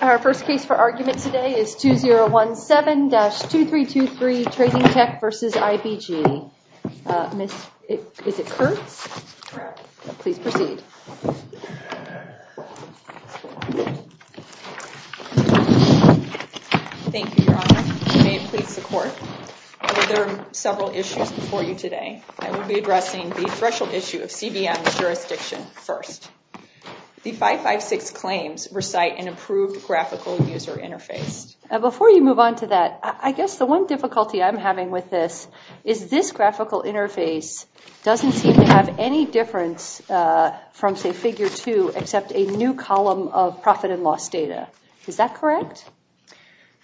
Our first case for argument today is 2017-2323 Trading Tech v. IBG. Miss, is it Kurtz? Correct. Please proceed. Thank you, Your Honor. If you may please support. There are several issues before you today. I will be addressing the threshold issue of CBM jurisdiction first. The 556 claims recite an improved graphical user interface. Before you move on to that, I guess the one difficulty I'm having with this is this graphical interface doesn't seem to have any difference from say figure two except a new column of profit and loss data. Is that correct?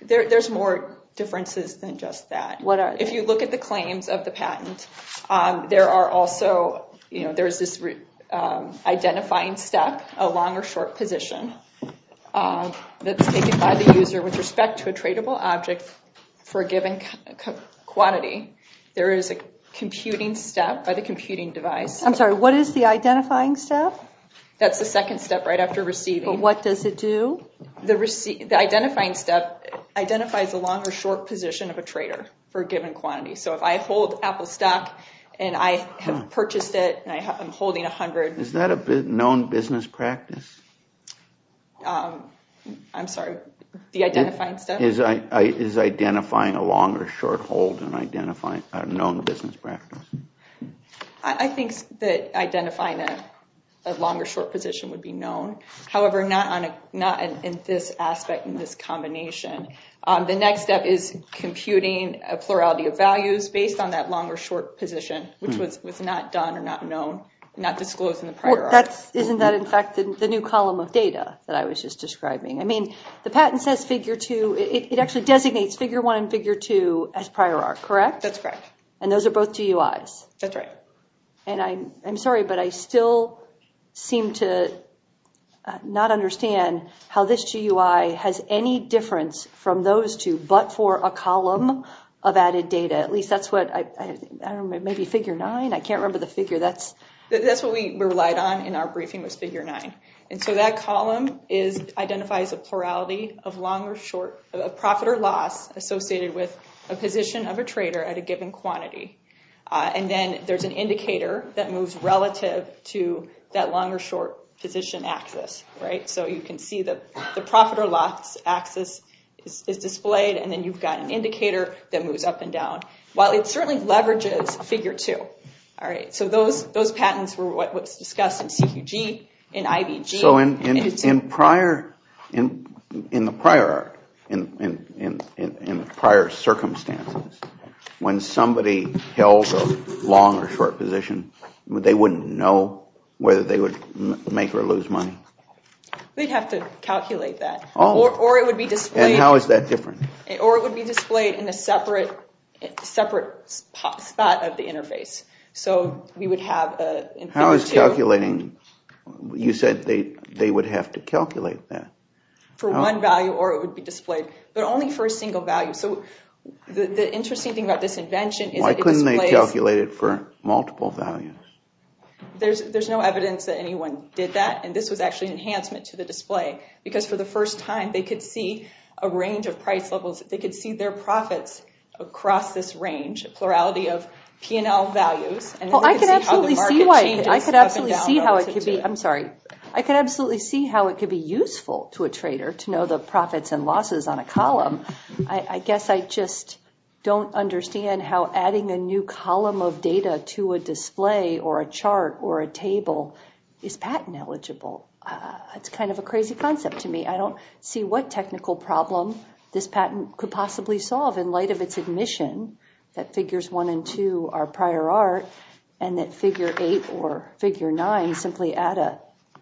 There's more differences than just that. If you look at the claims of the patent, there are also, you know, identifying step, a long or short position that's taken by the user with respect to a tradable object for a given quantity. There is a computing step by the computing device. I'm sorry, what is the identifying step? That's the second step right after receiving. What does it do? The identifying step identifies a long or short position of a trader for a given quantity. So I hold Apple stock and I have purchased it and I'm holding a hundred. Is that a known business practice? I'm sorry, the identifying step? Is identifying a long or short hold and identifying a known business practice? I think that identifying a longer short position would be known. However, not in this aspect, in this combination. The next step is computing a plurality of values based on that long or short position, which was not done or not known, not disclosed in the prior art. Isn't that in fact the new column of data that I was just describing? I mean, the patent says figure two, it actually designates figure one and figure two as prior art, correct? That's correct. And those are both GUIs? That's right. And I'm sorry, but I still seem to not understand how this GUI has any difference from those two, but for a column of added data. At least that's what, I don't know, maybe figure nine? I can't remember the figure. That's what we relied on in our briefing was figure nine. And so that column identifies a plurality of long or short, a profit or loss associated with a position of a trader at a given quantity. And then there's an indicator that moves relative to that long or short position axis, right? So you can see that the profit or loss axis is displayed, and then you've got an indicator that moves up and down, while it certainly leverages figure two, all right? So those patents were what was discussed in CQG, in IVG. So in the prior circumstances, when somebody held a long or short position, they wouldn't know whether they would make or lose money? They'd have to calculate that, or it would be displayed. And how is that different? Or it would be displayed in a separate spot of the interface. So we would have... How is calculating? You said they would have to calculate that. For one value, or it would be displayed, but only for a single value. So the interesting thing about this invention is... Why couldn't they calculate it for multiple values? There's no evidence that anyone did that, and this was actually an enhancement to the display, because for the first time, they could see a range of price levels. They could see their profits across this range, a plurality of P&L values, and they could see how the market changes up and down. I could absolutely see how it could be... I'm sorry. I could absolutely see how it could be useful to a trader to know the profits and losses on a column. I guess I just don't understand how adding a new column of data to a display or a chart or a table is patent eligible. It's kind of a crazy concept to me. I don't see what technical problem this patent could possibly solve in light of its admission that figures one and two are prior art, and that figure eight or figure nine simply add a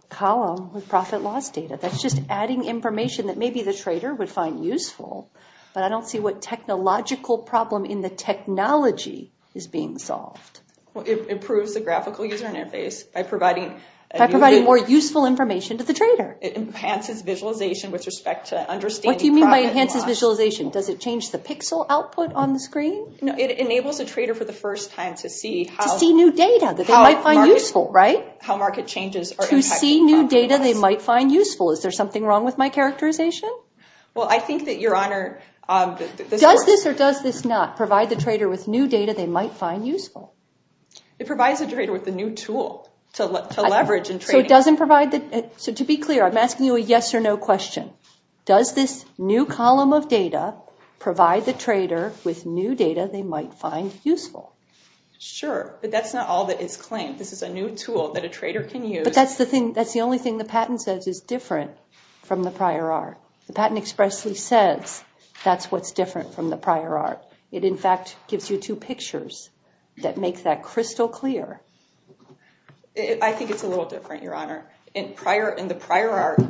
column with profit loss data. That's just adding information that maybe the trader would find useful, but I don't see what technological problem in the technology is being solved. Well, it improves the graphical user interface by providing... By providing more useful information to the trader. It enhances visualization with respect to understanding... What do you mean by enhances visualization? Does it change the pixel output on the screen? No, it enables a trader for the first time to see how... To see new data that they might find useful, right? To see new data they might find useful. Is there something wrong with my characterization? Well, I think that your honor... Does this or does this not provide the trader with new data they might find useful? It provides a trader with a new tool to leverage in trading. So to be clear, I'm asking you a yes or no question. Does this new column of data provide the trader with new data they might find useful? Sure, but that's not all that it's claimed. This is a new tool that a trader can use. But that's the thing, that's the only thing the patent says is different from the prior art. The patent expressly says that's what's different from the prior art. It in fact gives you two pictures that make that crystal clear. I think it's a little different, your honor. In the prior art,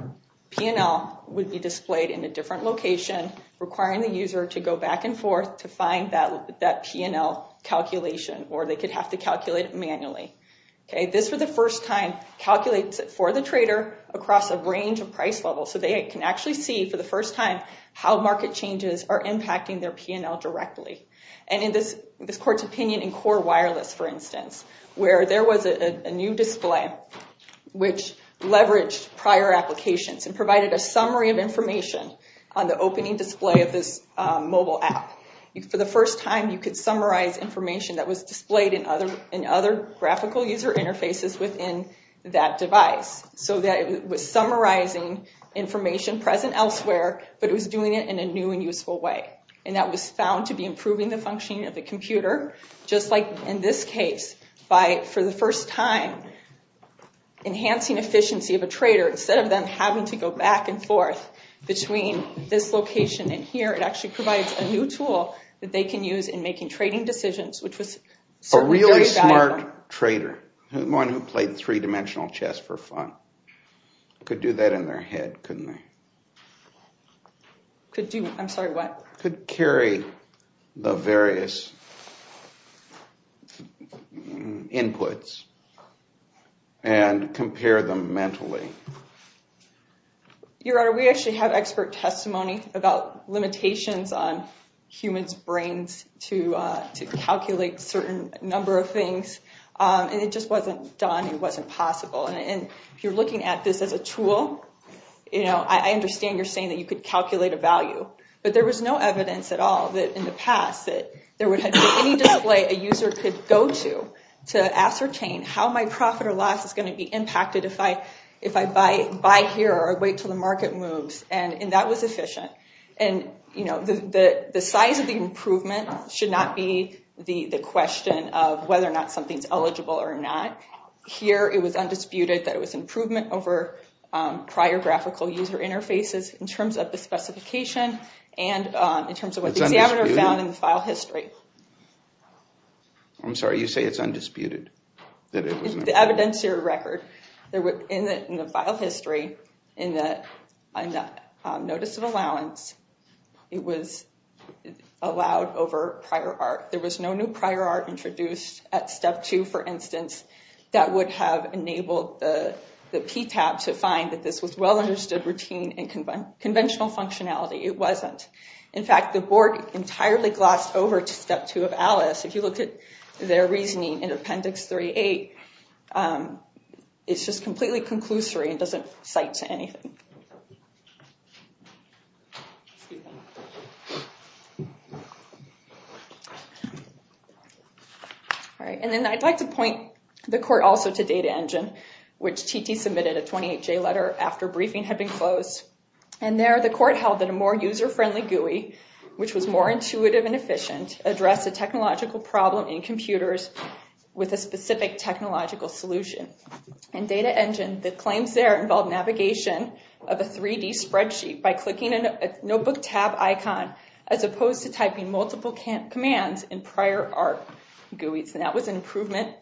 P&L would be displayed in a different location requiring the user to go back and forth to find that P&L calculation or they could have to calculate it manually. Okay, this for the first time calculates it for the trader across a range of price levels. So they can actually see for the first time how market changes are impacting their P&L directly. And in this court's opinion in Core Wireless, for instance, where there was a new display which leveraged prior applications and provided a summary of information on the opening display of this mobile app, for the first time you could summarize information that was displayed in other graphical user interfaces within that device. So that it was summarizing information present elsewhere, but it was doing it in a new and useful way. And that was found to be improving the functioning of the computer, just like in this case, by for the first time enhancing efficiency of a trader instead of them having to go back and forth between this location and here. It actually provides a new tool that they can use in making trading decisions, which was a really smart trader, one who played three-dimensional chess for fun. Could do that in their head, couldn't they? Could do, I'm sorry, what? Could carry the various inputs and compare them mentally. Your Honor, we actually have expert testimony about limitations on humans' brains to calculate certain number of things. And it just wasn't done, it wasn't possible. And if you're looking at this as a tool, you know, I understand you're saying that you could calculate a value, but there was no evidence at all that in the past that there would have been any display a user could go to to ascertain how my profit or loss is going to be impacted if I buy here or wait till the market moves. And that was efficient. And, you know, the size of the improvement should not be the question of whether or not something's eligible or not. Here it was undisputed that it improvement over prior graphical user interfaces in terms of the specification and in terms of what the examiner found in the file history. I'm sorry, you say it's undisputed? The evidentiary record. In the file history, in the notice of allowance, it was allowed over prior art. There was no new prior art introduced at step two, for instance, that would have enabled the PTAB to find that this was well understood routine and conventional functionality. It wasn't. In fact, the board entirely glossed over to step two of ALICE. If you look at their reasoning in appendix 38, it's just completely conclusory and doesn't cite to anything. All right. And then I'd like to point the court also to Data Engine, which TT submitted a 28-J letter after briefing had been closed. And there the court held that a more user-friendly GUI, which was more intuitive and efficient, addressed a technological problem in computers with a specific technological solution. And Data Engine, the claims there involved navigation, a 3D spreadsheet by clicking a notebook tab icon, as opposed to typing multiple commands in prior art GUIs. And that was an improvement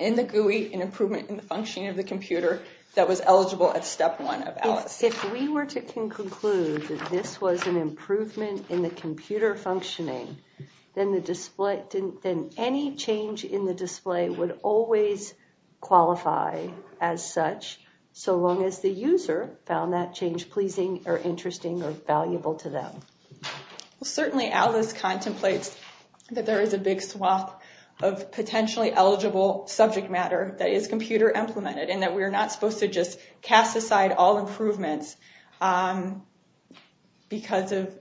in the GUI, an improvement in the functioning of the computer that was eligible at step one of ALICE. If we were to conclude that this was an improvement in the computer functioning, then any change in the display would always qualify as such, so long as the user found that change pleasing or interesting or valuable to them. Well, certainly ALICE contemplates that there is a big swath of potentially eligible subject matter that is computer implemented, and that we're not supposed to just cast aside all improvements because of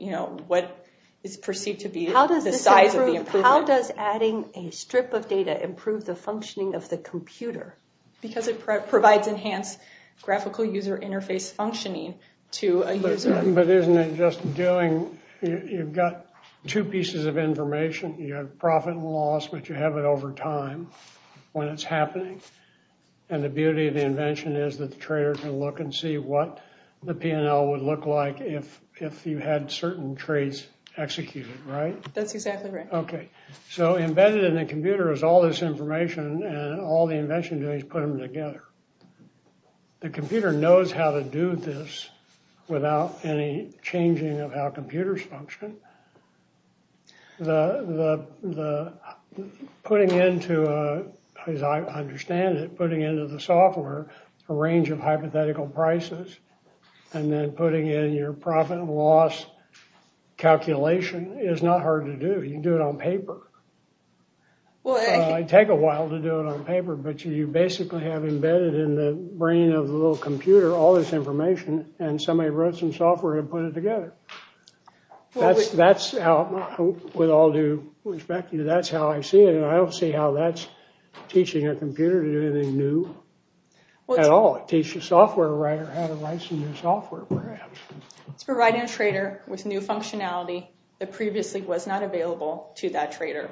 what is perceived to be the size of the improvement. How does adding a strip of data improve the functioning of the computer? Because it provides enhanced graphical user interface functioning to a user. But isn't it just doing... you've got two pieces of information. You have profit and loss, but you have it over time when it's happening. And the beauty of the invention is that the trader can look and see what the P&L would look like if you had certain traits executed, right? That's exactly right. Okay, so embedded in the computer is all this information, and all the invention is doing is putting them together. The computer knows how to do this without any changing of how computers function. The putting into, as I understand it, putting into the software a range of hypothetical prices, and then putting in your profit and loss calculation is not hard to do. You can do it on paper. It'd take a while to do it on paper, but you basically have embedded in the brain of the little computer all this information, and somebody wrote some software and put it together. That's how, with all due respect to you, that's how I see it, and I don't see how that's teaching a computer to do anything new at all. Teach a software writer how to write some new software, perhaps. It's providing a trader with new functionality that previously was not available to that trader,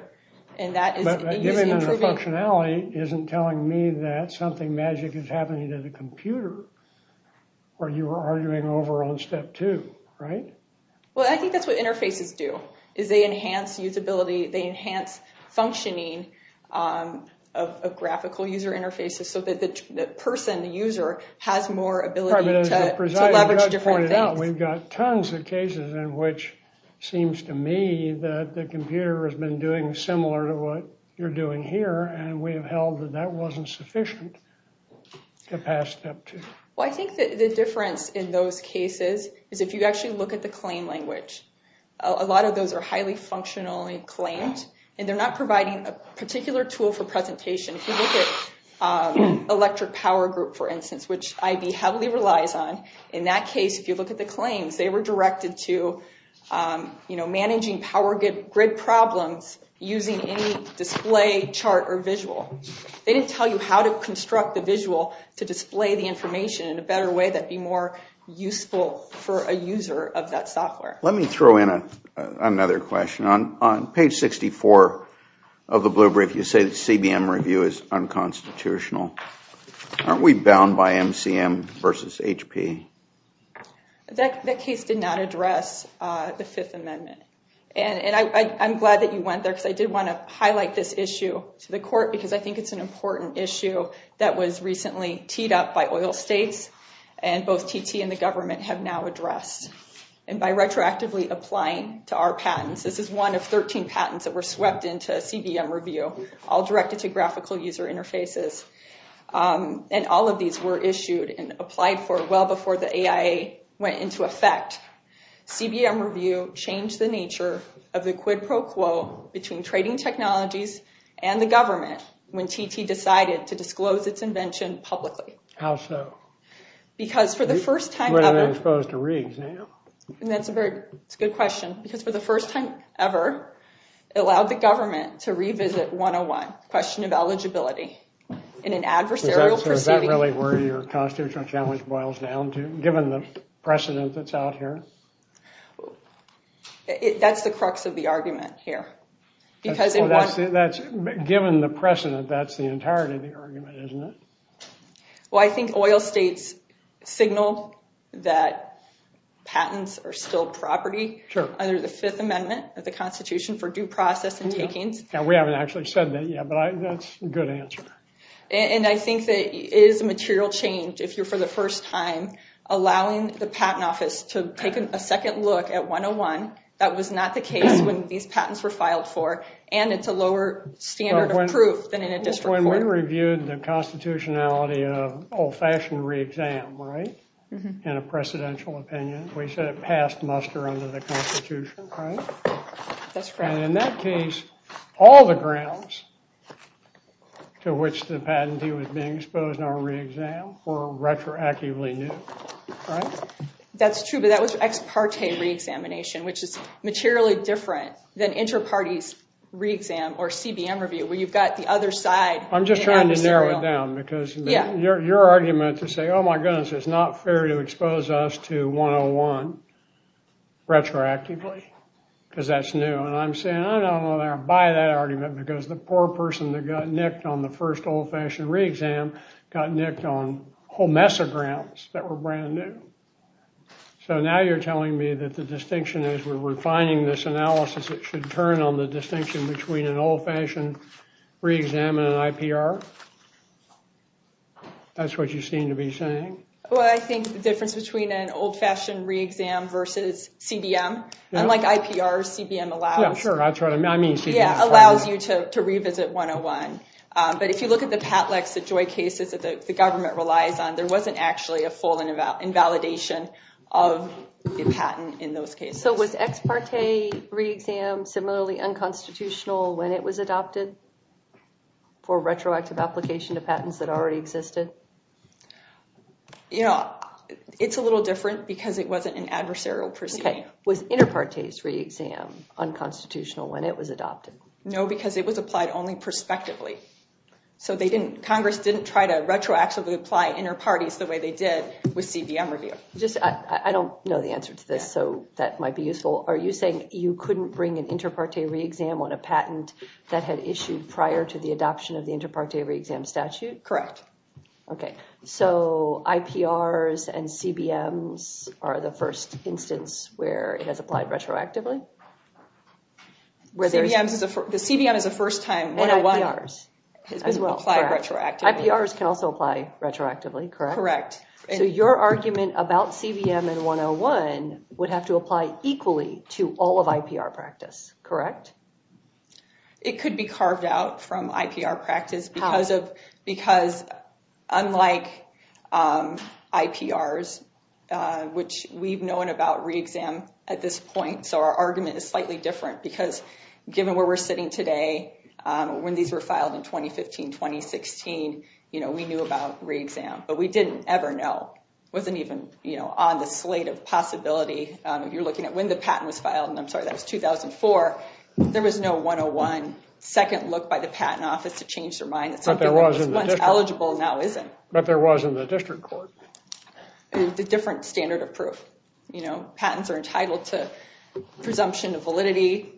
and that is... But giving them the functionality isn't telling me that something magic is happening to the computer, or you were arguing over on step two, right? Well, I think that's what interfaces do, is they enhance usability. They enhance functioning of graphical user interfaces, so that the person, the user, has more ability to leverage different things. We've got tons of cases in which it seems to me that the computer has been doing similar to what you're doing here, and we have held that that wasn't sufficient to pass step two. Well, I think that the difference in those cases is if you actually look at the claim language. A lot of those are highly functionally claimed, and they're not providing a particular tool for presentation. If you look at Electric Power Group, for instance, which IB heavily relies on, in that case, if you look at the claims, they were directed to, you know, managing power grid problems using any display chart or visual. They didn't tell you how to construct the visual to display the information in a better way that'd be more useful for a user of that software. Let me throw in another question. On page 64 of the blue brief, you say the CBM review is unconstitutional. Aren't we bound by MCM versus HP? That case did not address the Fifth Amendment, and I'm glad that you went there, because I did want to highlight this issue to the court, because I think it's an important issue that was recently to our patents. This is one of 13 patents that were swept into CBM review, all directed to graphical user interfaces, and all of these were issued and applied for well before the AIA went into effect. CBM review changed the nature of the quid pro quo between trading technologies and the government when TT decided to disclose its invention publicly. How so? Because for the It's a good question, because for the first time ever, it allowed the government to revisit 101, question of eligibility, in an adversarial proceeding. Is that really where your constitutional challenge boils down to, given the precedent that's out here? That's the crux of the argument here, because... Given the precedent, that's the entirety of the argument, isn't it? Well, I think oil states signal that patents are still property under the Fifth Amendment of the Constitution for due process and takings. And we haven't actually said that yet, but that's a good answer. And I think that it is a material change, if you're for the first time, allowing the Patent Office to take a second look at 101. That was not the case when these patents were filed for, and it's a lower standard of proof than in a district court. When we reviewed the constitutionality of old-fashioned re-exam, right, in a precedential opinion, we said it passed muster under the Constitution, right? That's correct. And in that case, all the grounds to which the patentee was being exposed in our re-exam were retroactively new, right? That's true, but that was ex parte re-examination, which is materially different than inter-parties re-exam or CBM review, where you've got the other side. I'm just trying to narrow it down, because your argument to say, oh my goodness, it's not fair to expose us to 101 retroactively, because that's new. And I'm saying, I don't want to buy that argument, because the poor person that got nicked on the first old-fashioned re-exam got nicked on a whole mess of grounds that were brand new. So now you're telling me that the between an old-fashioned re-exam and an IPR? That's what you seem to be saying? Well, I think the difference between an old-fashioned re-exam versus CBM, unlike IPR, CBM allows you to revisit 101. But if you look at the Patlex, the Joy cases that the government relies on, there wasn't actually a full invalidation of the patent in those cases. Was ex-parte re-exam similarly unconstitutional when it was adopted for retroactive application to patents that already existed? Yeah, it's a little different, because it wasn't an adversarial proceeding. Was inter-partes re-exam unconstitutional when it was adopted? No, because it was applied only prospectively. So Congress didn't try to retroactively apply inter-parties the way they did with CBM review. I don't know the answer to this, that might be useful. Are you saying you couldn't bring an inter-parte re-exam on a patent that had issued prior to the adoption of the inter-parte re-exam statute? Correct. Okay, so IPRs and CBMs are the first instance where it has applied retroactively? The CBM is a first-time 101. And IPRs as well, correct. IPRs can also apply retroactively, correct? Correct. So your argument about CBM and 101 would have to apply equally to all of IPR practice, correct? It could be carved out from IPR practice, because unlike IPRs, which we've known about re-exam at this point, so our argument is slightly different, because given where we're sitting today, when these were filed in 2015, 2016, we knew about re-exam, but we didn't ever know, wasn't even on the slate of possibility. If you're looking at when the patent was filed, and I'm sorry, that was 2004, there was no 101 second look by the patent office to change their mind. It's something that was once eligible, now isn't. But there was in the district court. The different standard of proof. Patents are entitled to presumption of validity,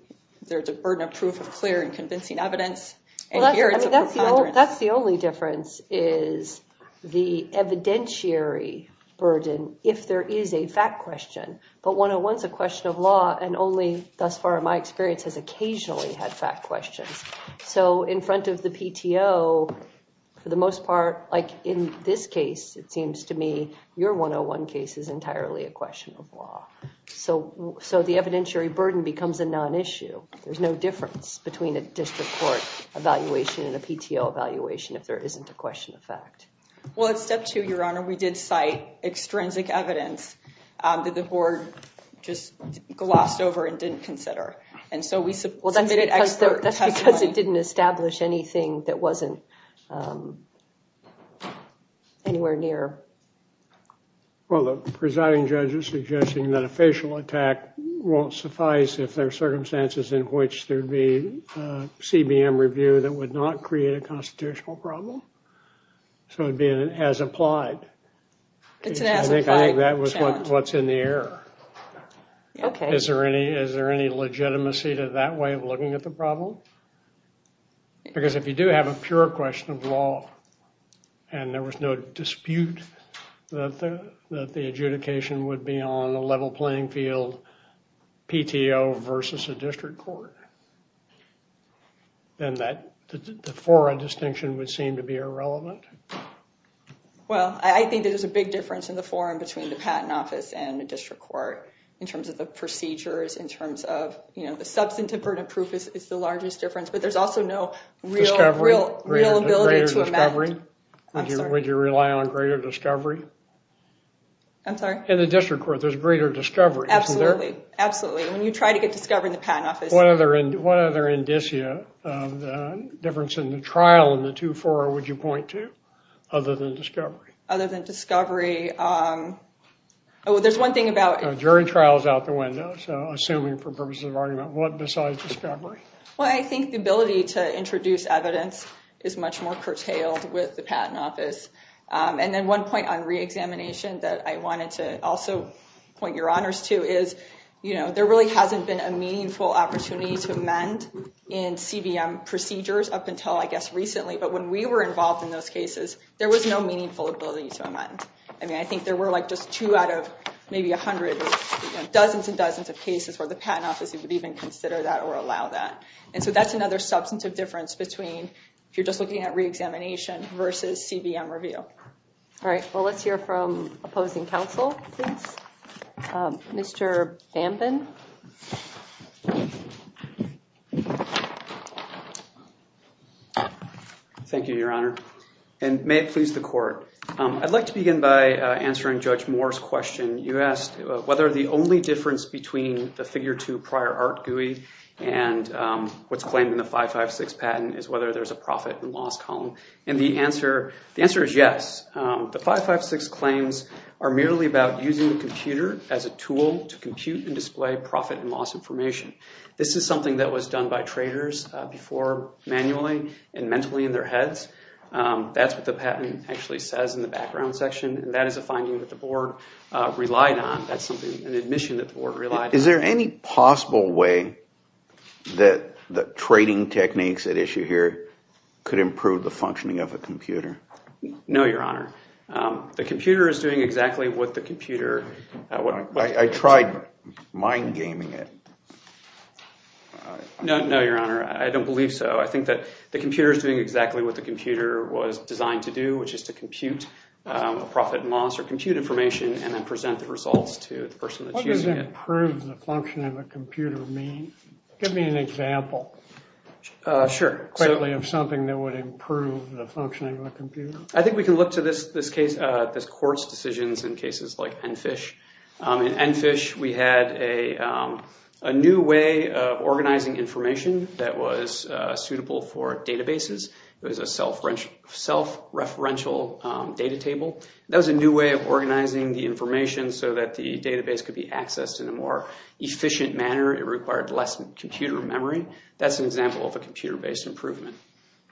there's a burden of proof of clear and convincing evidence, and here it's a preponderance. That's the only difference, is the evidentiary burden, if there is a fact question. But 101's a question of law, and only thus far in my experience has occasionally had fact questions. So in front of the PTO, for the most part, like in this case, it seems to me, your 101 case is entirely a question of law. So the evidentiary burden becomes a non-issue. There's no difference between a district court evaluation and a PTO evaluation, if there isn't a question of fact. Well at step two, your honor, we did cite extrinsic evidence that the board just glossed over and didn't consider. And so we submitted expert testimony- Well, the presiding judge is suggesting that a facial attack won't suffice if there are circumstances in which there'd be a CBM review that would not create a constitutional problem. So it'd be an as-applied. I think that was what's in the air. Is there any legitimacy to that way of looking at the problem? Because if you do have a pure question of law, and there was no dispute that the adjudication would be on a level playing field, PTO versus a district court, then the forum distinction would seem to be irrelevant. Well, I think there's a big difference in the forum between the patent office and a district court in terms of the procedures, in terms of the substantive burden of proof is the largest difference, but there's also no real ability to amend. I'm sorry. Would you rely on greater discovery? I'm sorry? In the district court, there's greater discovery, isn't there? Absolutely. When you try to get discovery in the patent office- What other indicia of the difference in the trial in the two forum would you point to, other than discovery? Other than discovery, there's one thing about- Jury trial is out the window, so assuming for purposes of argument, what besides discovery? Well, I think the ability to introduce evidence is much more curtailed with the patent office. And then one point on re-examination that I wanted to also point your honors to is, there really hasn't been a meaningful opportunity to amend in CBM procedures up until, I guess, recently, but when we were involved in those cases, there was no meaningful ability to amend. I mean, I think there were just two out of maybe 100 or dozens and dozens of cases where the patent office would even consider that or allow that. And so that's another substantive difference between, if you're just looking at re-examination versus CBM review. All right. Well, let's hear from opposing counsel, please. Mr. Bambin. Thank you, your honor. And may it please the court. I'd like to begin by answering Judge Moore's question. You asked whether the only difference between the figure two prior art GUI and what's claimed in the 556 patent is whether there's a profit and loss column. And the answer is yes. The 556 claims are merely about using the computer as a tool to compute and display profit and loss information. This is something that was done by traders before manually and mentally in their heads. That's what the patent actually says in the background section. And that is a finding that the board relied on. That's an admission that the board relied on. Is there any possible way that the trading techniques at issue here could improve the functioning of a computer? No, your honor. The computer is doing exactly what the computer... I tried mind gaming it. No, your honor. I don't believe so. I think that the computer is doing exactly what the computer was designed to do, which is to compute a profit and loss or compute information and then present the results to the person that's using it. What does improve the functioning of a computer mean? Give me an example. Sure. Quickly of something that would improve the functioning of a computer. I think we can look to this court's decisions in cases like Enfish. In Enfish, we had a new way of organizing information that was suitable for databases. It was a self-referential data table. That was a new way of organizing the information so that the database could be accessed in a more efficient manner. It required less computer memory. That's an example of a computer-based improvement.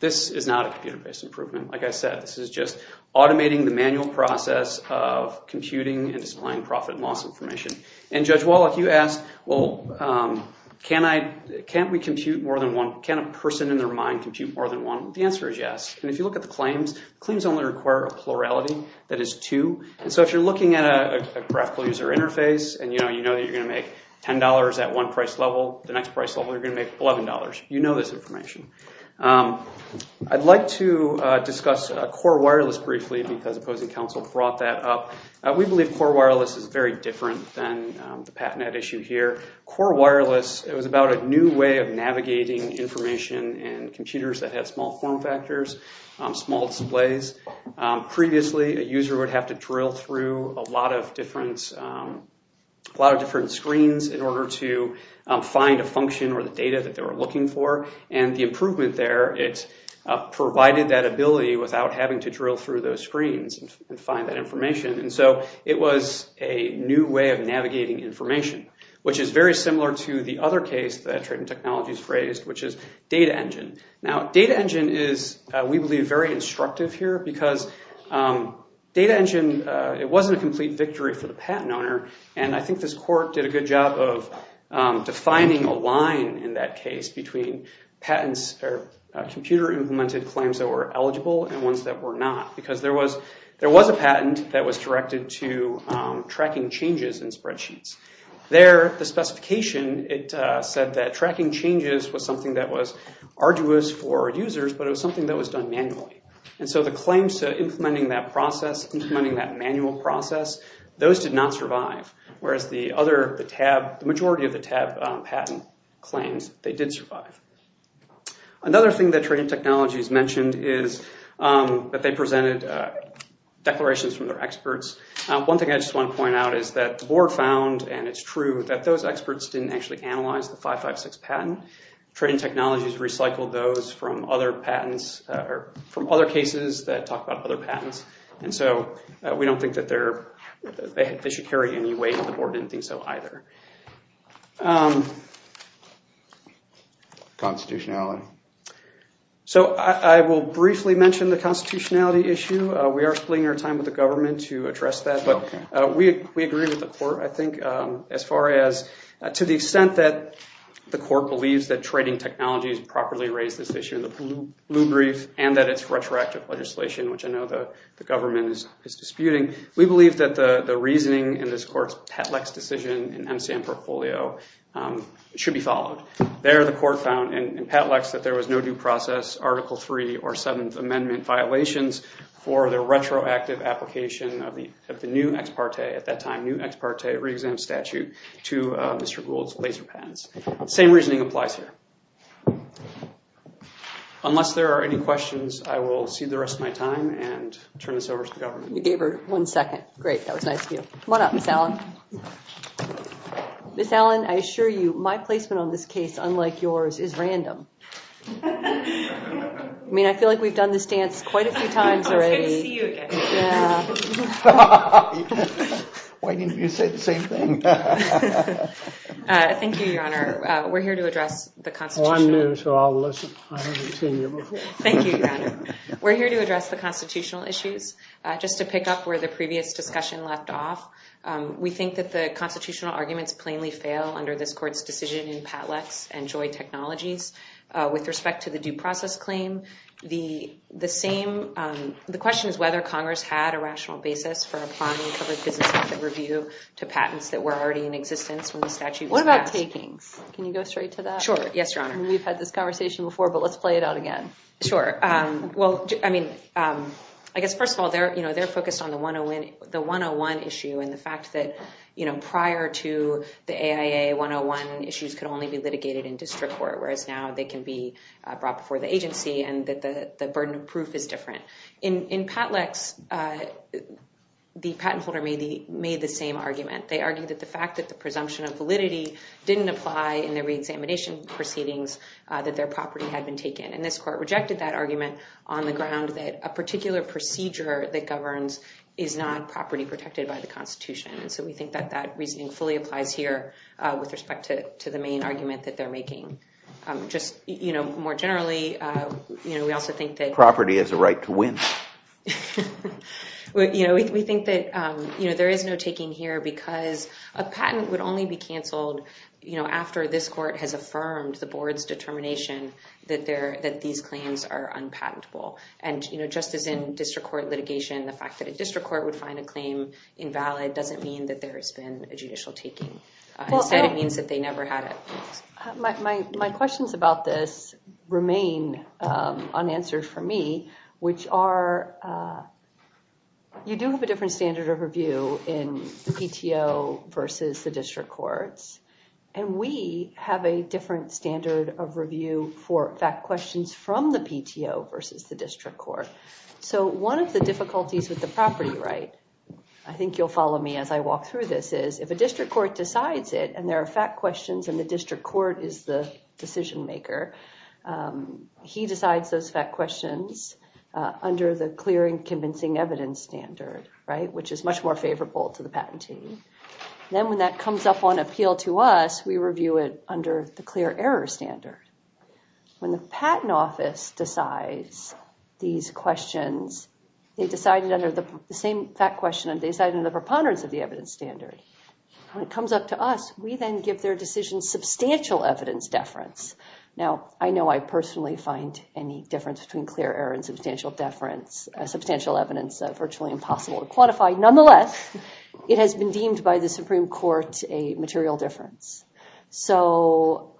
This is not a computer-based improvement. Like I said, this is just automating the manual process of computing and displaying profit and loss information. And Judge Wallach, you asked, well, can't we compute more than one... The answer is yes. And if you look at the claims, claims only require a plurality that is two. And so if you're looking at a graphical user interface and you know that you're going to make $10 at one price level, the next price level, you're going to make $11. You know this information. I'd like to discuss Core Wireless briefly because opposing counsel brought that up. We believe Core Wireless is very different than the PatNet issue here. Core Wireless, it was about a new way of navigating information and computers that had small form factors, small displays. Previously, a user would have to drill through a lot of different screens in order to find a function or the data that they were looking for. And the improvement there, it provided that ability without having to drill through those screens and find that information. And so it was a new way of navigating information, which is very similar to the other case that Trident Technologies raised, which is Data Engine. Now, Data Engine is, we believe, very instructive here because Data Engine, it wasn't a complete victory for the patent owner. And I think this court did a good job of defining a line in that case between patents or computer implemented claims that were eligible and ones that were not. Because there was a patent that was directed to tracking changes in spreadsheets. There, the specification, it said that tracking changes was something that was arduous for users, but it was something that was done manually. And so the claims to implementing that process, implementing that manual process, those did not survive. Whereas the majority of the TAB patent claims, they did survive. Another thing that Trident Technologies mentioned is that they presented declarations from their experts. One thing I just want to point out is that the board found, and it's true, that those experts didn't actually analyze the 556 patent. Trident Technologies recycled those from other patents, or from other cases that talk about other patents. And so we don't think that they should carry any weight. The board didn't think so either. Constitutionality. So I will briefly mention the constitutionality issue. We are splitting our time with the government to address that. But we agree with the court, I think, as far as, to the extent that the court believes that Trident Technologies properly raised this issue in the blue brief, and that it's retroactive legislation, which I know the government is disputing. We believe that the reasoning in this court's Petlex decision in MCM Portfolio should be followed. There, the court found in Petlex that there was no due process, Article III or Seventh Amendment violations for the retroactive application of the new ex parte, at that time, new ex parte re-exam statute, to Mr. Gould's laser patents. Same reasoning applies here. Unless there are any questions, I will cede the rest of my time and turn this over to the government. You gave her one second. Great, that was nice of you. Come on up, Ms. Allen. Ms. Allen, I assure you, my placement on this case, unlike yours, is random. I mean, I feel like we've done this dance quite a few times already. It's good to see you again. Why didn't you say the same thing? Thank you, Your Honor. We're here to address the constitutional. Oh, I'm new, so I'll listen. I haven't seen you before. Thank you, Your Honor. We're here to address the constitutional issues. Just to pick up where the previous discussion left off, we think that the constitutional arguments plainly fail under this court's decision in Petlex and Joy Technologies. With respect to the due process claim, the question is whether Congress had a rational basis for applying a covered business asset review to patents that were already in existence when the statute was passed. What about takings? Can you go straight to that? Sure, yes, Your Honor. We've had this conversation before, but let's play it out again. Sure. Well, I mean, I guess first of all, they're focused on the 101 issue and the fact that prior to the AIA 101 issues could only be litigated in district court, whereas now they can be brought before the agency and that the burden of proof is different. In Petlex, the patent holder made the same argument. They argued that the fact that the presumption of validity didn't apply in the re-examination proceedings, that their property had been taken. And this court rejected that argument on the ground that a particular procedure that governs is not property protected by the Constitution. And so we think that that reasoning fully applies here with respect to the main argument that they're making. Just more generally, we also think that property has a right to win. We think that there is no taking here because a patent would only be canceled after this court has affirmed the board's determination that these claims are unpatentable. And just as in district court litigation, the fact that a district court would find a claim invalid doesn't mean that there has been a judicial taking. Instead, it means that they never had it. My questions about this remain unanswered for me. Which are, you do have a different standard of review in PTO versus the district courts. And we have a different standard of review for fact questions from the PTO versus the district court. So one of the difficulties with the property right, I think you'll follow me as I walk through this, is if a district court decides it and there are fact questions and the district court is the decision maker, he decides those fact questions under the clear and convincing evidence standard, which is much more favorable to the patentee. Then when that comes up on appeal to us, we review it under the clear error standard. When the patent office decides these questions, they decide it under the same fact question and they decide in the preponderance of the evidence standard. When it comes up to us, we then give their decision substantial evidence deference. Now, I know I personally find any difference between clear error and substantial deference, substantial evidence virtually impossible to quantify. Nonetheless, it has been deemed by the Supreme Court a material difference. So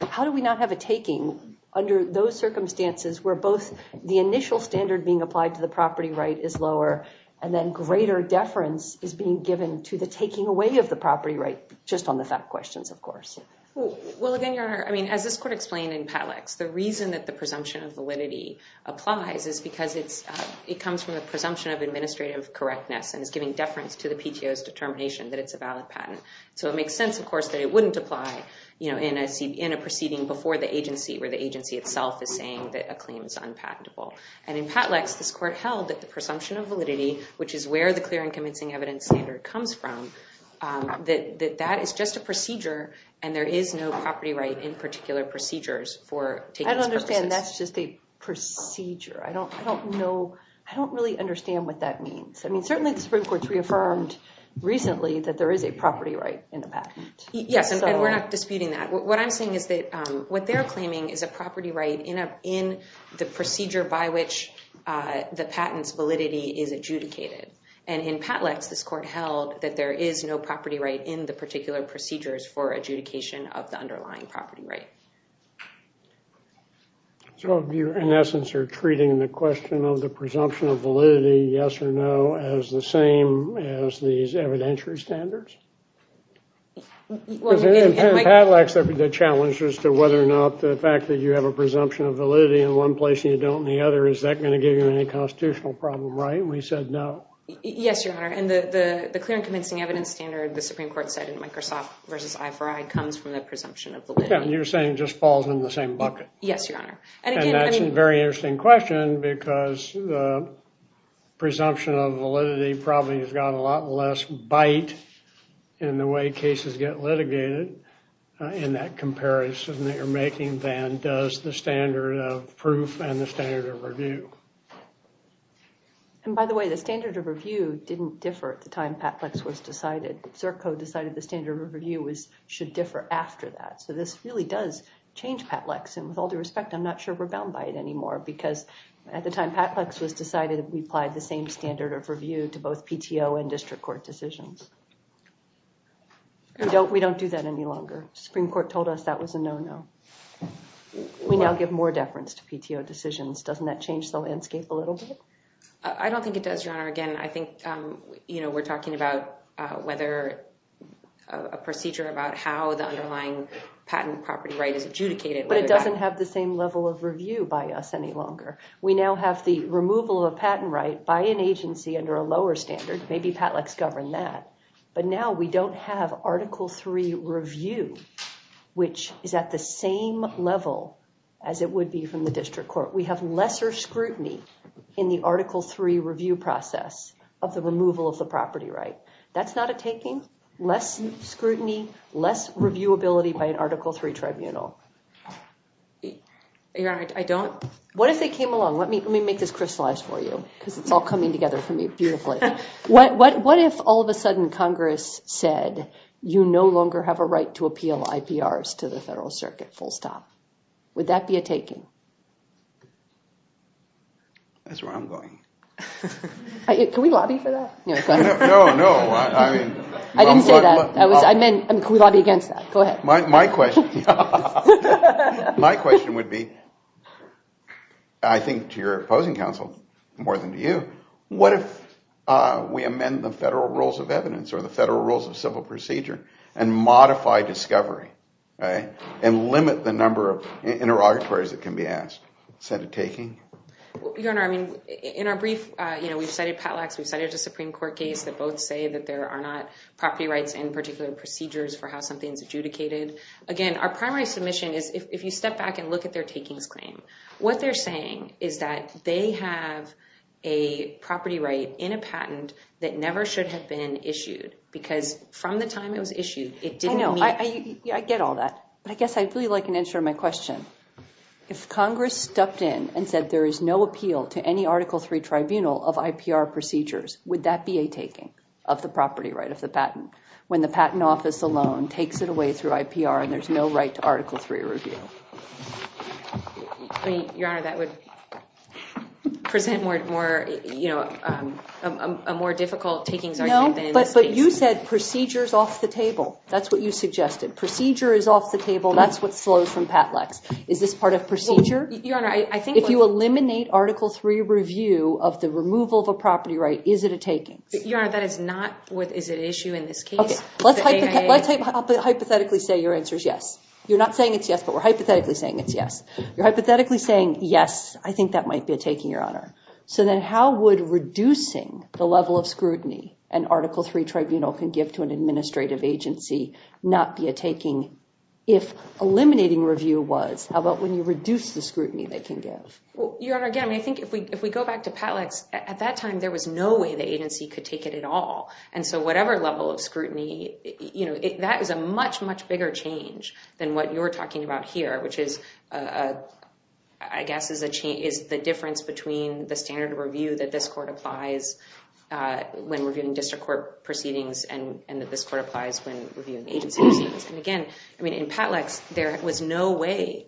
how do we not have a taking under those circumstances where both the initial standard being applied to the property right is lower and then greater deference is being given to the taking away of the property right just on the fact questions, of course. Well, again, Your Honor, I mean, as this court explained in Patlex, the reason that the presumption of validity applies is because it comes from a presumption of administrative correctness and is giving deference to the PTO's determination that it's a valid patent. So it makes sense, of course, that it wouldn't apply in a proceeding before the agency where the agency itself is saying that a claim is unpatentable. And in Patlex, this court held which is where the clear and convincing evidence standard comes from, that that is just a procedure and there is no property right in particular procedures for taking purposes. I don't understand that's just a procedure. I don't know. I don't really understand what that means. I mean, certainly the Supreme Court's reaffirmed recently that there is a property right in the patent. Yes, and we're not disputing that. What I'm saying is that what they're claiming is a property right in the procedure by which the patent's validity is adjudicated. And in Patlex, this court held that there is no property right in the particular procedures for adjudication of the underlying property right. So you, in essence, are treating the question of the presumption of validity, yes or no, as the same as these evidentiary standards? In Patlex, there'd be the challenge as to whether or not the fact that you have a presumption of validity in one place and you don't in the other, is that going to give you any constitutional problem, right? And we said no. Yes, Your Honor. And the clear and convincing evidence standard the Supreme Court said in Microsoft versus I4I comes from the presumption of validity. Yeah, and you're saying it just falls in the same bucket. Yes, Your Honor. And that's a very interesting question because the presumption of validity probably has got a lot less bite in the way cases get litigated in that comparison that you're making than does the standard of proof and the standard of review. And by the way, the standard of review didn't differ at the time Patlex was decided. Zirco decided the standard of review should differ after that. So this really does change Patlex. And with all due respect, I'm not sure we're bound by it anymore because at the time Patlex was decided, we applied the same standard of review to both PTO and district court decisions. We don't do that any longer. Supreme Court told us that was a no-no. We now give more deference to PTO decisions. Doesn't that change the landscape a little bit? I don't think it does, Your Honor. Again, I think we're talking about whether a procedure about how the underlying patent property right is adjudicated. But it doesn't have the same level of review by us any longer. We now have the removal of a patent right by an agency under a lower standard. Maybe Patlex governed that. But now we don't have Article III review, which is at the same level as it would be from the district court. We have lesser scrutiny in the Article III review process of the removal of the property right. That's not a taking? Less scrutiny, less reviewability by an Article III tribunal? Your Honor, I don't... What if they came along? Let me make this crystallized for you because it's all coming together for me beautifully. What if all of a sudden Congress said, you no longer have a right to appeal IPRs to the Federal Circuit, full stop? Would that be a taking? That's where I'm going. Can we lobby for that? No, no, I mean... I didn't say that. I mean, can we lobby against that? Go ahead. My question would be, I think to your opposing counsel more than to you, what if we amend the federal rules of evidence or the federal rules of civil procedure and modify discovery, right, and limit the number of interrogatories that can be asked? Is that a taking? Your Honor, I mean, in our brief, you know, we've cited Patlex, we've cited a Supreme Court case that both say that there are not property rights in particular procedures for how something's adjudicated. Again, our primary submission is if you step back and look at their takings claim, what they're saying is that they have a property right in a patent that never should have been issued because from the time it was issued, it didn't meet... I know, I get all that, but I guess I'd really like an answer to my question. If Congress stepped in and said there is no appeal to any Article III tribunal of IPR procedures, would that be a taking of the property right of the patent when the Patent Office alone takes it away through IPR and there's no right to Article III review? I mean, Your Honor, that would present more, you know, a more difficult takings argument. No, but you said procedures off the table. That's what you suggested. Procedure is off the table. That's what slows from Patlex. Is this part of procedure? Your Honor, I think... If you eliminate Article III review of the removal of a property right, is it a taking? Your Honor, that is not with... Is it an issue in this case? Let's hypothetically say your answer is yes. You're not saying it's yes, but we're hypothetically saying it's yes. You're hypothetically saying, yes, I think that might be a taking, Your Honor. So then how would reducing the level of scrutiny an Article III tribunal can give to an administrative agency not be a taking if eliminating review was? How about when you reduce the scrutiny they can give? Well, Your Honor, again, I mean, if we go back to Patlex, at that time, there was no way the agency could take it at all. And so whatever level of scrutiny, that is a much, much bigger change than what you're talking about here, which is, I guess, is the difference between the standard of review that this court applies when reviewing district court proceedings and that this court applies when reviewing agency proceedings. And again, I mean, in Patlex, there was no way...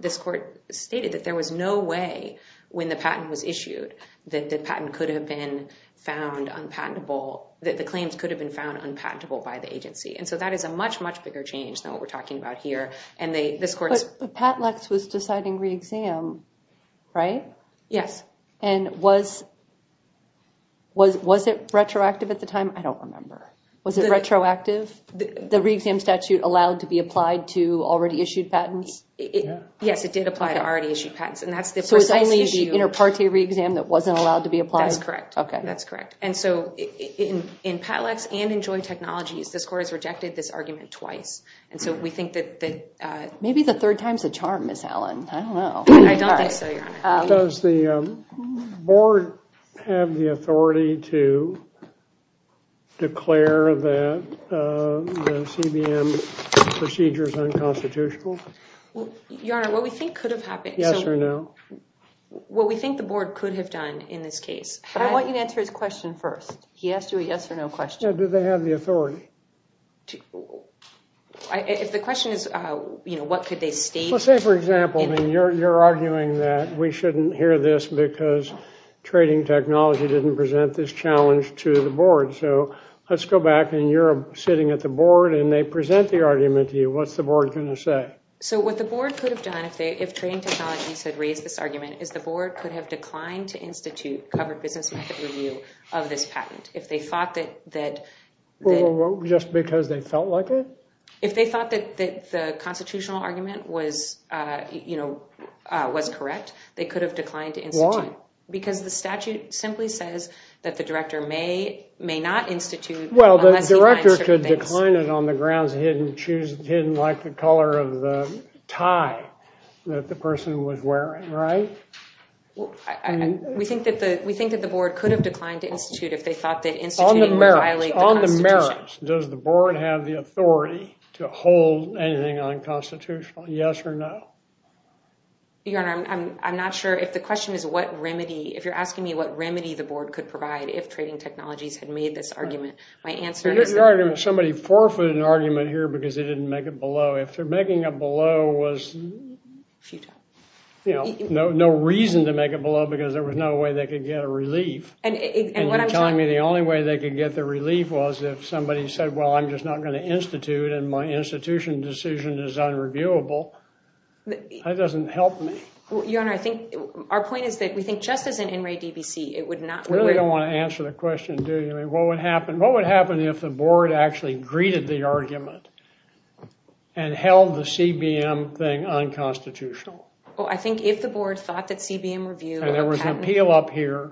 This court stated that there was no way when the patent was issued that the patent could have been found unpatentable, that the claims could have been found unpatentable by the agency. And so that is a much, much bigger change than what we're talking about here. And this court's... But Patlex was deciding re-exam, right? Yes. And was it retroactive at the time? I don't remember. Was it retroactive? The re-exam statute allowed to be applied to already issued patents? Yes, it did apply to already issued patents. And that's the precise issue. So it's only the inter-parte re-exam that wasn't allowed to be applied? That's correct. Okay. That's correct. And so in Patlex and in joint technologies, this court has rejected this argument twice. And so we think that... Maybe the third time's the charm, Ms. Allen. I don't know. I don't think so, Your Honor. Does the board have the authority to declare that the CBM procedure is unconstitutional? Your Honor, what we think could have happened... Yes or no? What we think the board could have done in this case. But I want you to answer his question first. He asked you a yes or no question. Now, do they have the authority? If the question is, you know, what could they state? Let's say, for example, you're arguing that we shouldn't hear this because trading technology didn't present this challenge to the board. So let's go back and you're sitting at the board and they present the argument to you. What's the board going to say? So what the board could have done if trading technologies had raised this argument is the board could have declined to institute covered business method review of this patent. If they thought that... Just because they felt like it? If they thought that the constitutional argument was correct, they could have declined to institute. Why? Because the statute simply says that the director may not institute... Well, the director could decline it on the grounds he didn't like the color of the tie. That the person was wearing, right? We think that the board could have declined to institute if they thought that instituting would violate the constitution. On the merits, does the board have the authority to hold anything unconstitutional? Yes or no? Your Honor, I'm not sure if the question is what remedy... If you're asking me what remedy the board could provide if trading technologies had made this argument, my answer is... Somebody forfeited an argument here because they didn't make it below. If they're making it below was... A few times. No reason to make it below because there was no way they could get a relief. And you're telling me the only way they could get the relief was if somebody said, well, I'm just not going to institute and my institution decision is unreviewable. That doesn't help me. Your Honor, I think... Our point is that we think just as an NRA DBC, it would not... Really don't want to answer the question, do you? I mean, what would happen... What would happen if the board actually greeted the argument and held the CBM thing unconstitutional? Well, I think if the board thought that CBM review... And there was an appeal up here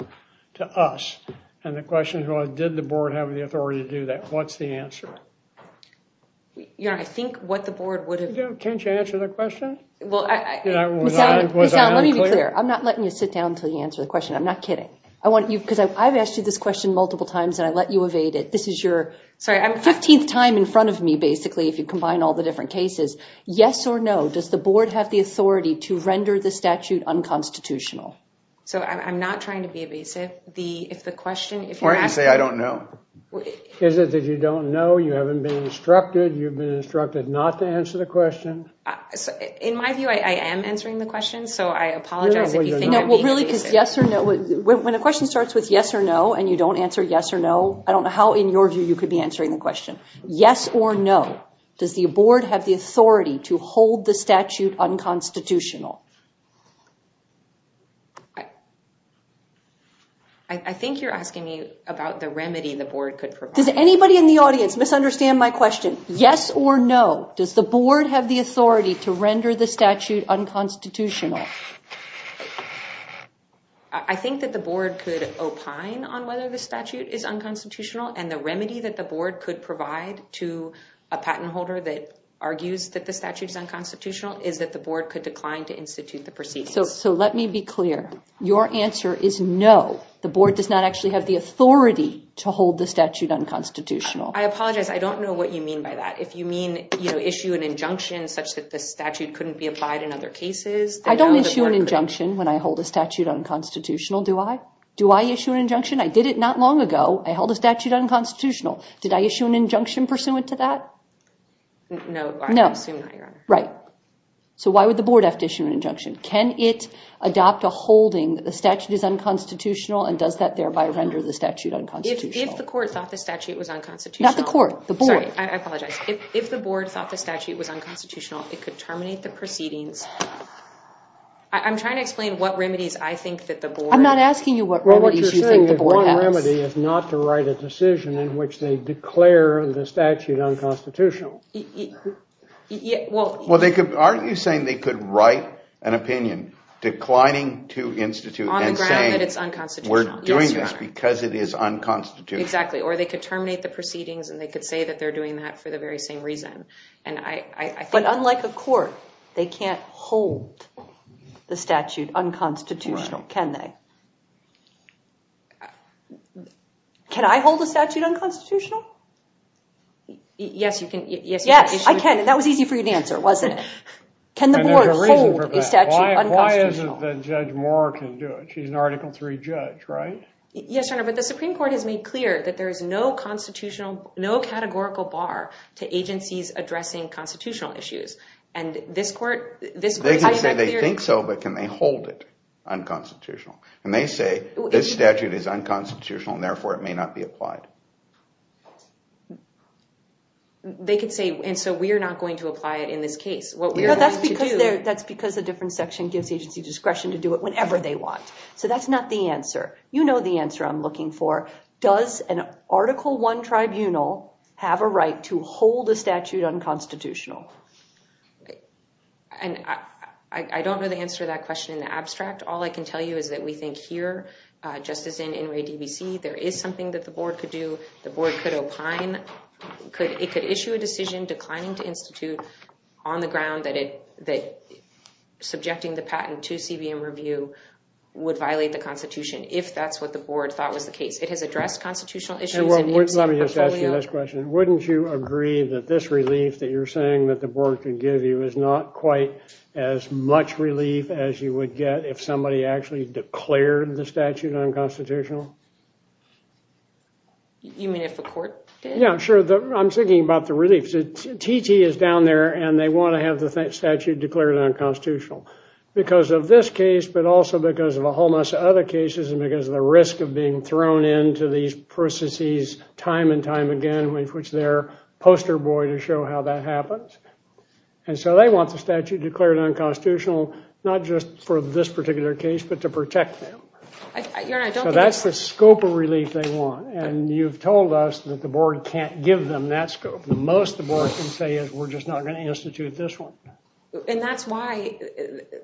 to us. And the question is, well, did the board have the authority to do that? What's the answer? Your Honor, I think what the board would have... Can't you answer the question? Well, I... Michelle, let me be clear. I'm not letting you sit down until you answer the question. I'm not kidding. I want you... Because I've asked you this question multiple times and I let you evade it. This is your... Sorry, I'm 15th time in front of me, basically. If you combine all the different cases. Yes or no, does the board have the authority to render the statute unconstitutional? So I'm not trying to be evasive. The... If the question... Why didn't you say, I don't know? Is it that you don't know? You haven't been instructed. You've been instructed not to answer the question. In my view, I am answering the question. So I apologize if you think I'm being evasive. Well, really, because yes or no... When a question starts with yes or no and you don't answer yes or no, I don't know how, in your view, you could be answering the question. Yes or no, does the board have the authority to hold the statute unconstitutional? I think you're asking me about the remedy the board could provide. Does anybody in the audience misunderstand my question? Yes or no, does the board have the authority to render the statute unconstitutional? I think that the board could opine on whether the statute is unconstitutional and the remedy that the board could provide to a patent holder that argues that the statute is unconstitutional is that the board could decline to institute the proceedings. So let me be clear. Your answer is no. The board does not actually have the authority to hold the statute unconstitutional. I apologize. I don't know what you mean by that. If you mean issue an injunction such that the statute couldn't be applied in other cases... I don't issue an injunction when I hold a statute unconstitutional, do I? Do I issue an injunction? I did it not long ago. I held a statute unconstitutional. Did I issue an injunction pursuant to that? No, I assume not, Your Honor. Right. So why would the board have to issue an injunction? Can it adopt a holding that the statute is unconstitutional and does that thereby render the statute unconstitutional? If the court thought the statute was unconstitutional... Not the court, the board. Sorry, I apologize. If the board thought the statute was unconstitutional, it could terminate the proceedings. I think that the board... I'm not asking you what remedies you think the board has. The remedy is not to write a decision in which they declare the statute unconstitutional. Well, aren't you saying they could write an opinion declining to institute and saying... On the ground that it's unconstitutional. We're doing this because it is unconstitutional. Exactly, or they could terminate the proceedings and they could say that they're doing that for the very same reason. And I think... But unlike a court, they can't hold the statute unconstitutional, can they? Can I hold a statute unconstitutional? Yes, you can. Yes, I can. That was easy for you to answer, wasn't it? Can the board hold a statute unconstitutional? Why isn't it that Judge Moore can do it? She's an Article III judge, right? Yes, Your Honor, but the Supreme Court has made clear that there is no categorical bar to agencies addressing constitutional issues. And this court... They can say they think so, but can they hold it unconstitutional? And they say this statute is unconstitutional and therefore it may not be applied. They could say, and so we're not going to apply it in this case. That's because a different section gives agency discretion to do it whenever they want. So that's not the answer. You know the answer I'm looking for. Does an Article I tribunal have a right to hold a statute unconstitutional? And I don't know the answer to that question in the abstract. All I can tell you is that we think here, just as in NRA DVC, there is something that the board could do. The board could opine. It could issue a decision declining to institute on the ground that it... Subjecting the patent to CBM review would violate the Constitution if that's what the board thought was the case. It has addressed constitutional issues. And let me just ask you this question. Wouldn't you agree that this relief that you're saying that the board could give you is not quite as much relief as you would get if somebody actually declared the statute unconstitutional? You mean if a court did? Yeah, sure. I'm thinking about the reliefs. TT is down there, and they want to have the statute declared unconstitutional. Because of this case, but also because of a whole mess of other cases, and because of the risk of being thrown into these processes time and time again, which they're poster boy to show how that happens. And so they want the statute declared unconstitutional, not just for this particular case, but to protect them. So that's the scope of relief they want. And you've told us that the board can't give them that scope. The most the board can say is, we're just not going to institute this one. And that's why...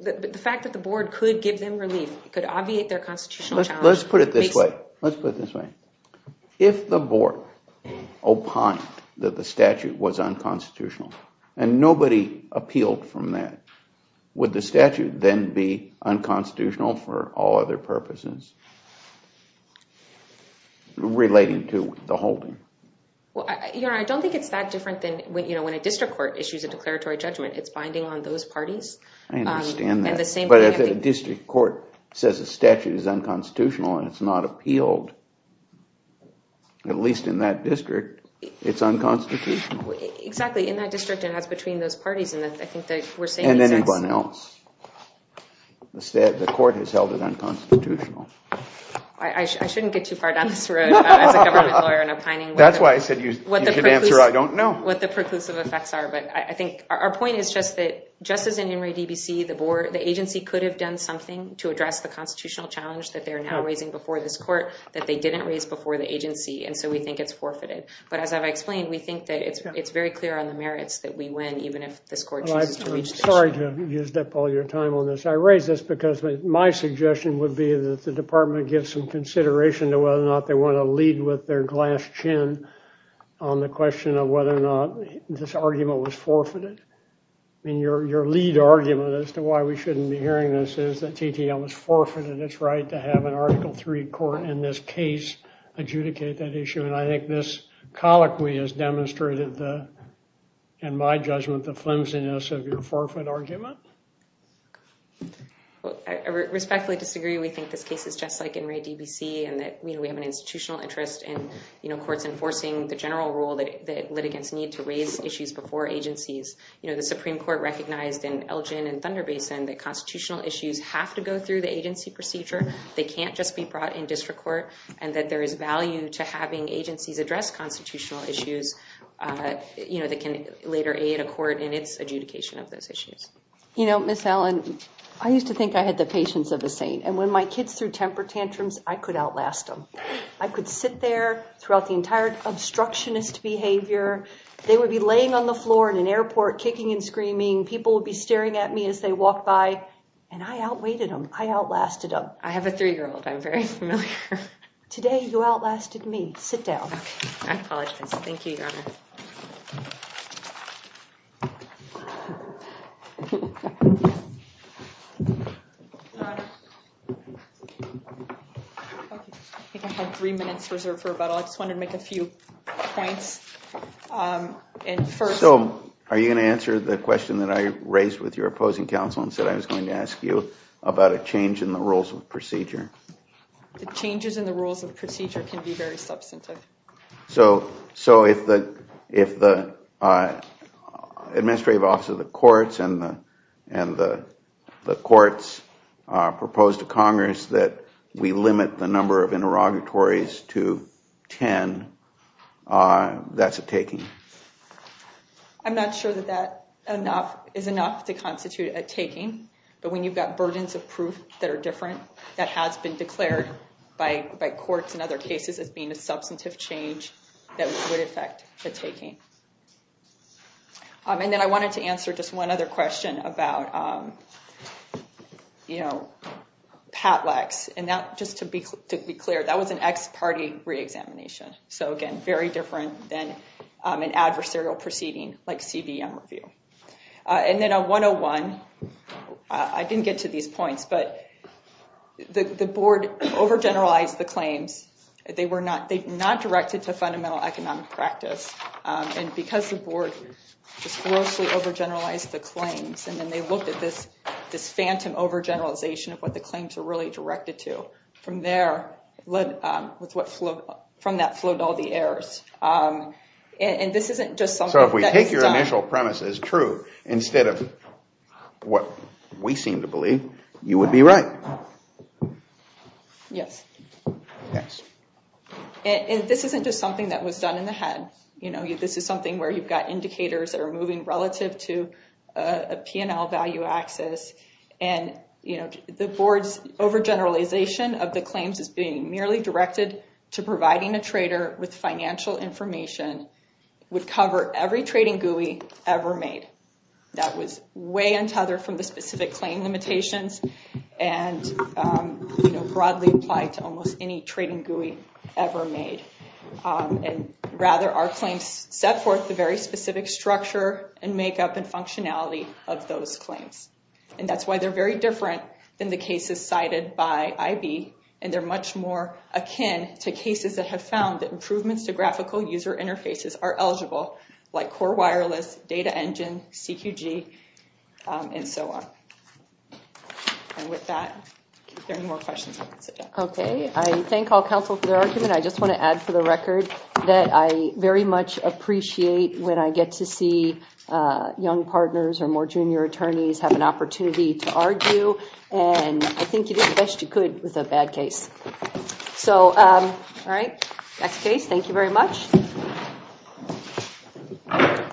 The fact that the board could give them relief, could obviate their constitutional challenge... Let's put it this way. Let's put it this way. If the board opined that the statute was unconstitutional, and nobody appealed from that, would the statute then be unconstitutional for all other purposes? Relating to the holding. Well, I don't think it's that different than when a district court issues a declaratory judgment. It's binding on those parties. I understand that. But if a district court says a statute is unconstitutional, and it's not appealed, at least in that district, it's unconstitutional. Exactly. In that district, it has between those parties, I think that we're saying... And anyone else. The court has held it unconstitutional. I shouldn't get too far down this road as a government lawyer and opining... That's why I said you could answer, I don't know. What the preclusive effects are. But I think our point is just that, just as in Henry DBC, the agency could have done something to address the constitutional challenge that they are now raising before this court, that they didn't raise before the agency. And so we think it's forfeited. But as I've explained, we think that it's very clear on the merits that we win, even if this court chooses to reach this... I'm sorry to have used up all your time on this. I raise this because my suggestion would be that the department gives some consideration to whether or not they want to lead with their glass chin on the question of whether or not this argument was forfeited. I mean, your lead argument as to why we shouldn't be hearing this is that TTL was forfeited its right to have an Article III court in this case adjudicate that issue. And I think this colloquy has demonstrated the... the flimsiness of your forfeit argument. Well, I respectfully disagree. We think this case is just like Henry DBC and that we have an institutional interest in courts enforcing the general rule that litigants need to raise issues before agencies. The Supreme Court recognized in Elgin and Thunder Basin that constitutional issues have to go through the agency procedure. They can't just be brought in district court and that there is value to having agencies address constitutional issues that can later aid a court in its adjudication of those issues. You know, Ms. Allen, I used to think I had the patience of a saint. And when my kids threw temper tantrums, I could outlast them. I could sit there throughout the entire obstructionist behavior. They would be laying on the floor in an airport, kicking and screaming. People would be staring at me as they walked by. And I outweighed them. I outlasted them. I have a three-year-old. I'm very familiar. Today, you outlasted me. Sit down. I apologize. Thank you, Your Honor. I think I have three minutes reserved for rebuttal. I just wanted to make a few points. So are you going to answer the question that I raised with your opposing counsel and said I was going to ask you about a change in the rules of procedure? The changes in the rules of procedure can be very substantive. So if the administrative office of the courts and the courts propose to Congress that we limit the number of interrogatories to 10, that's a taking? I'm not sure that that is enough to constitute a taking. But when you've got burdens of proof that are different, that has been declared by courts in other cases as being a substantive change that would affect the taking. And then I wanted to answer just one other question about PATLEX. And just to be clear, that was an ex parte reexamination. So again, very different than an adversarial proceeding like CBM review. And then on 101, I didn't get to these points. But the board overgeneralized the claims. They were not directed to fundamental economic practice. And because the board just grossly overgeneralized the claims, and then they looked at this phantom overgeneralization of what the claims were really directed to. From there, from that flowed all the errors. And this isn't just something that is done. So if we take your initial premise as true, instead of what we seem to believe, you would be right. Yes. And this isn't just something that was done in the head. You know, this is something where you've got indicators that are moving relative to a P&L value axis. And the board's overgeneralization of the claims as being merely directed to providing a trader with financial information would cover every trading GUI ever made. That was way untethered from the specific claim limitations and broadly applied to almost any trading GUI ever made. And rather, our claims set forth the very specific structure and makeup and functionality of those claims. And that's why they're very different than the cases cited by IB. And they're much more akin to cases that have found that improvements to graphical user interfaces are eligible, like Core Wireless, Data Engine, CQG, and so on. And with that, if there are any more questions, I can sit down. Okay. I thank all counsel for their argument. I just want to add for the record that I very much appreciate when I get to see young partners or more junior attorneys have an opportunity to argue. And I think you did the best you could with a bad case. So, all right. Next case. Thank you very much. Thank you.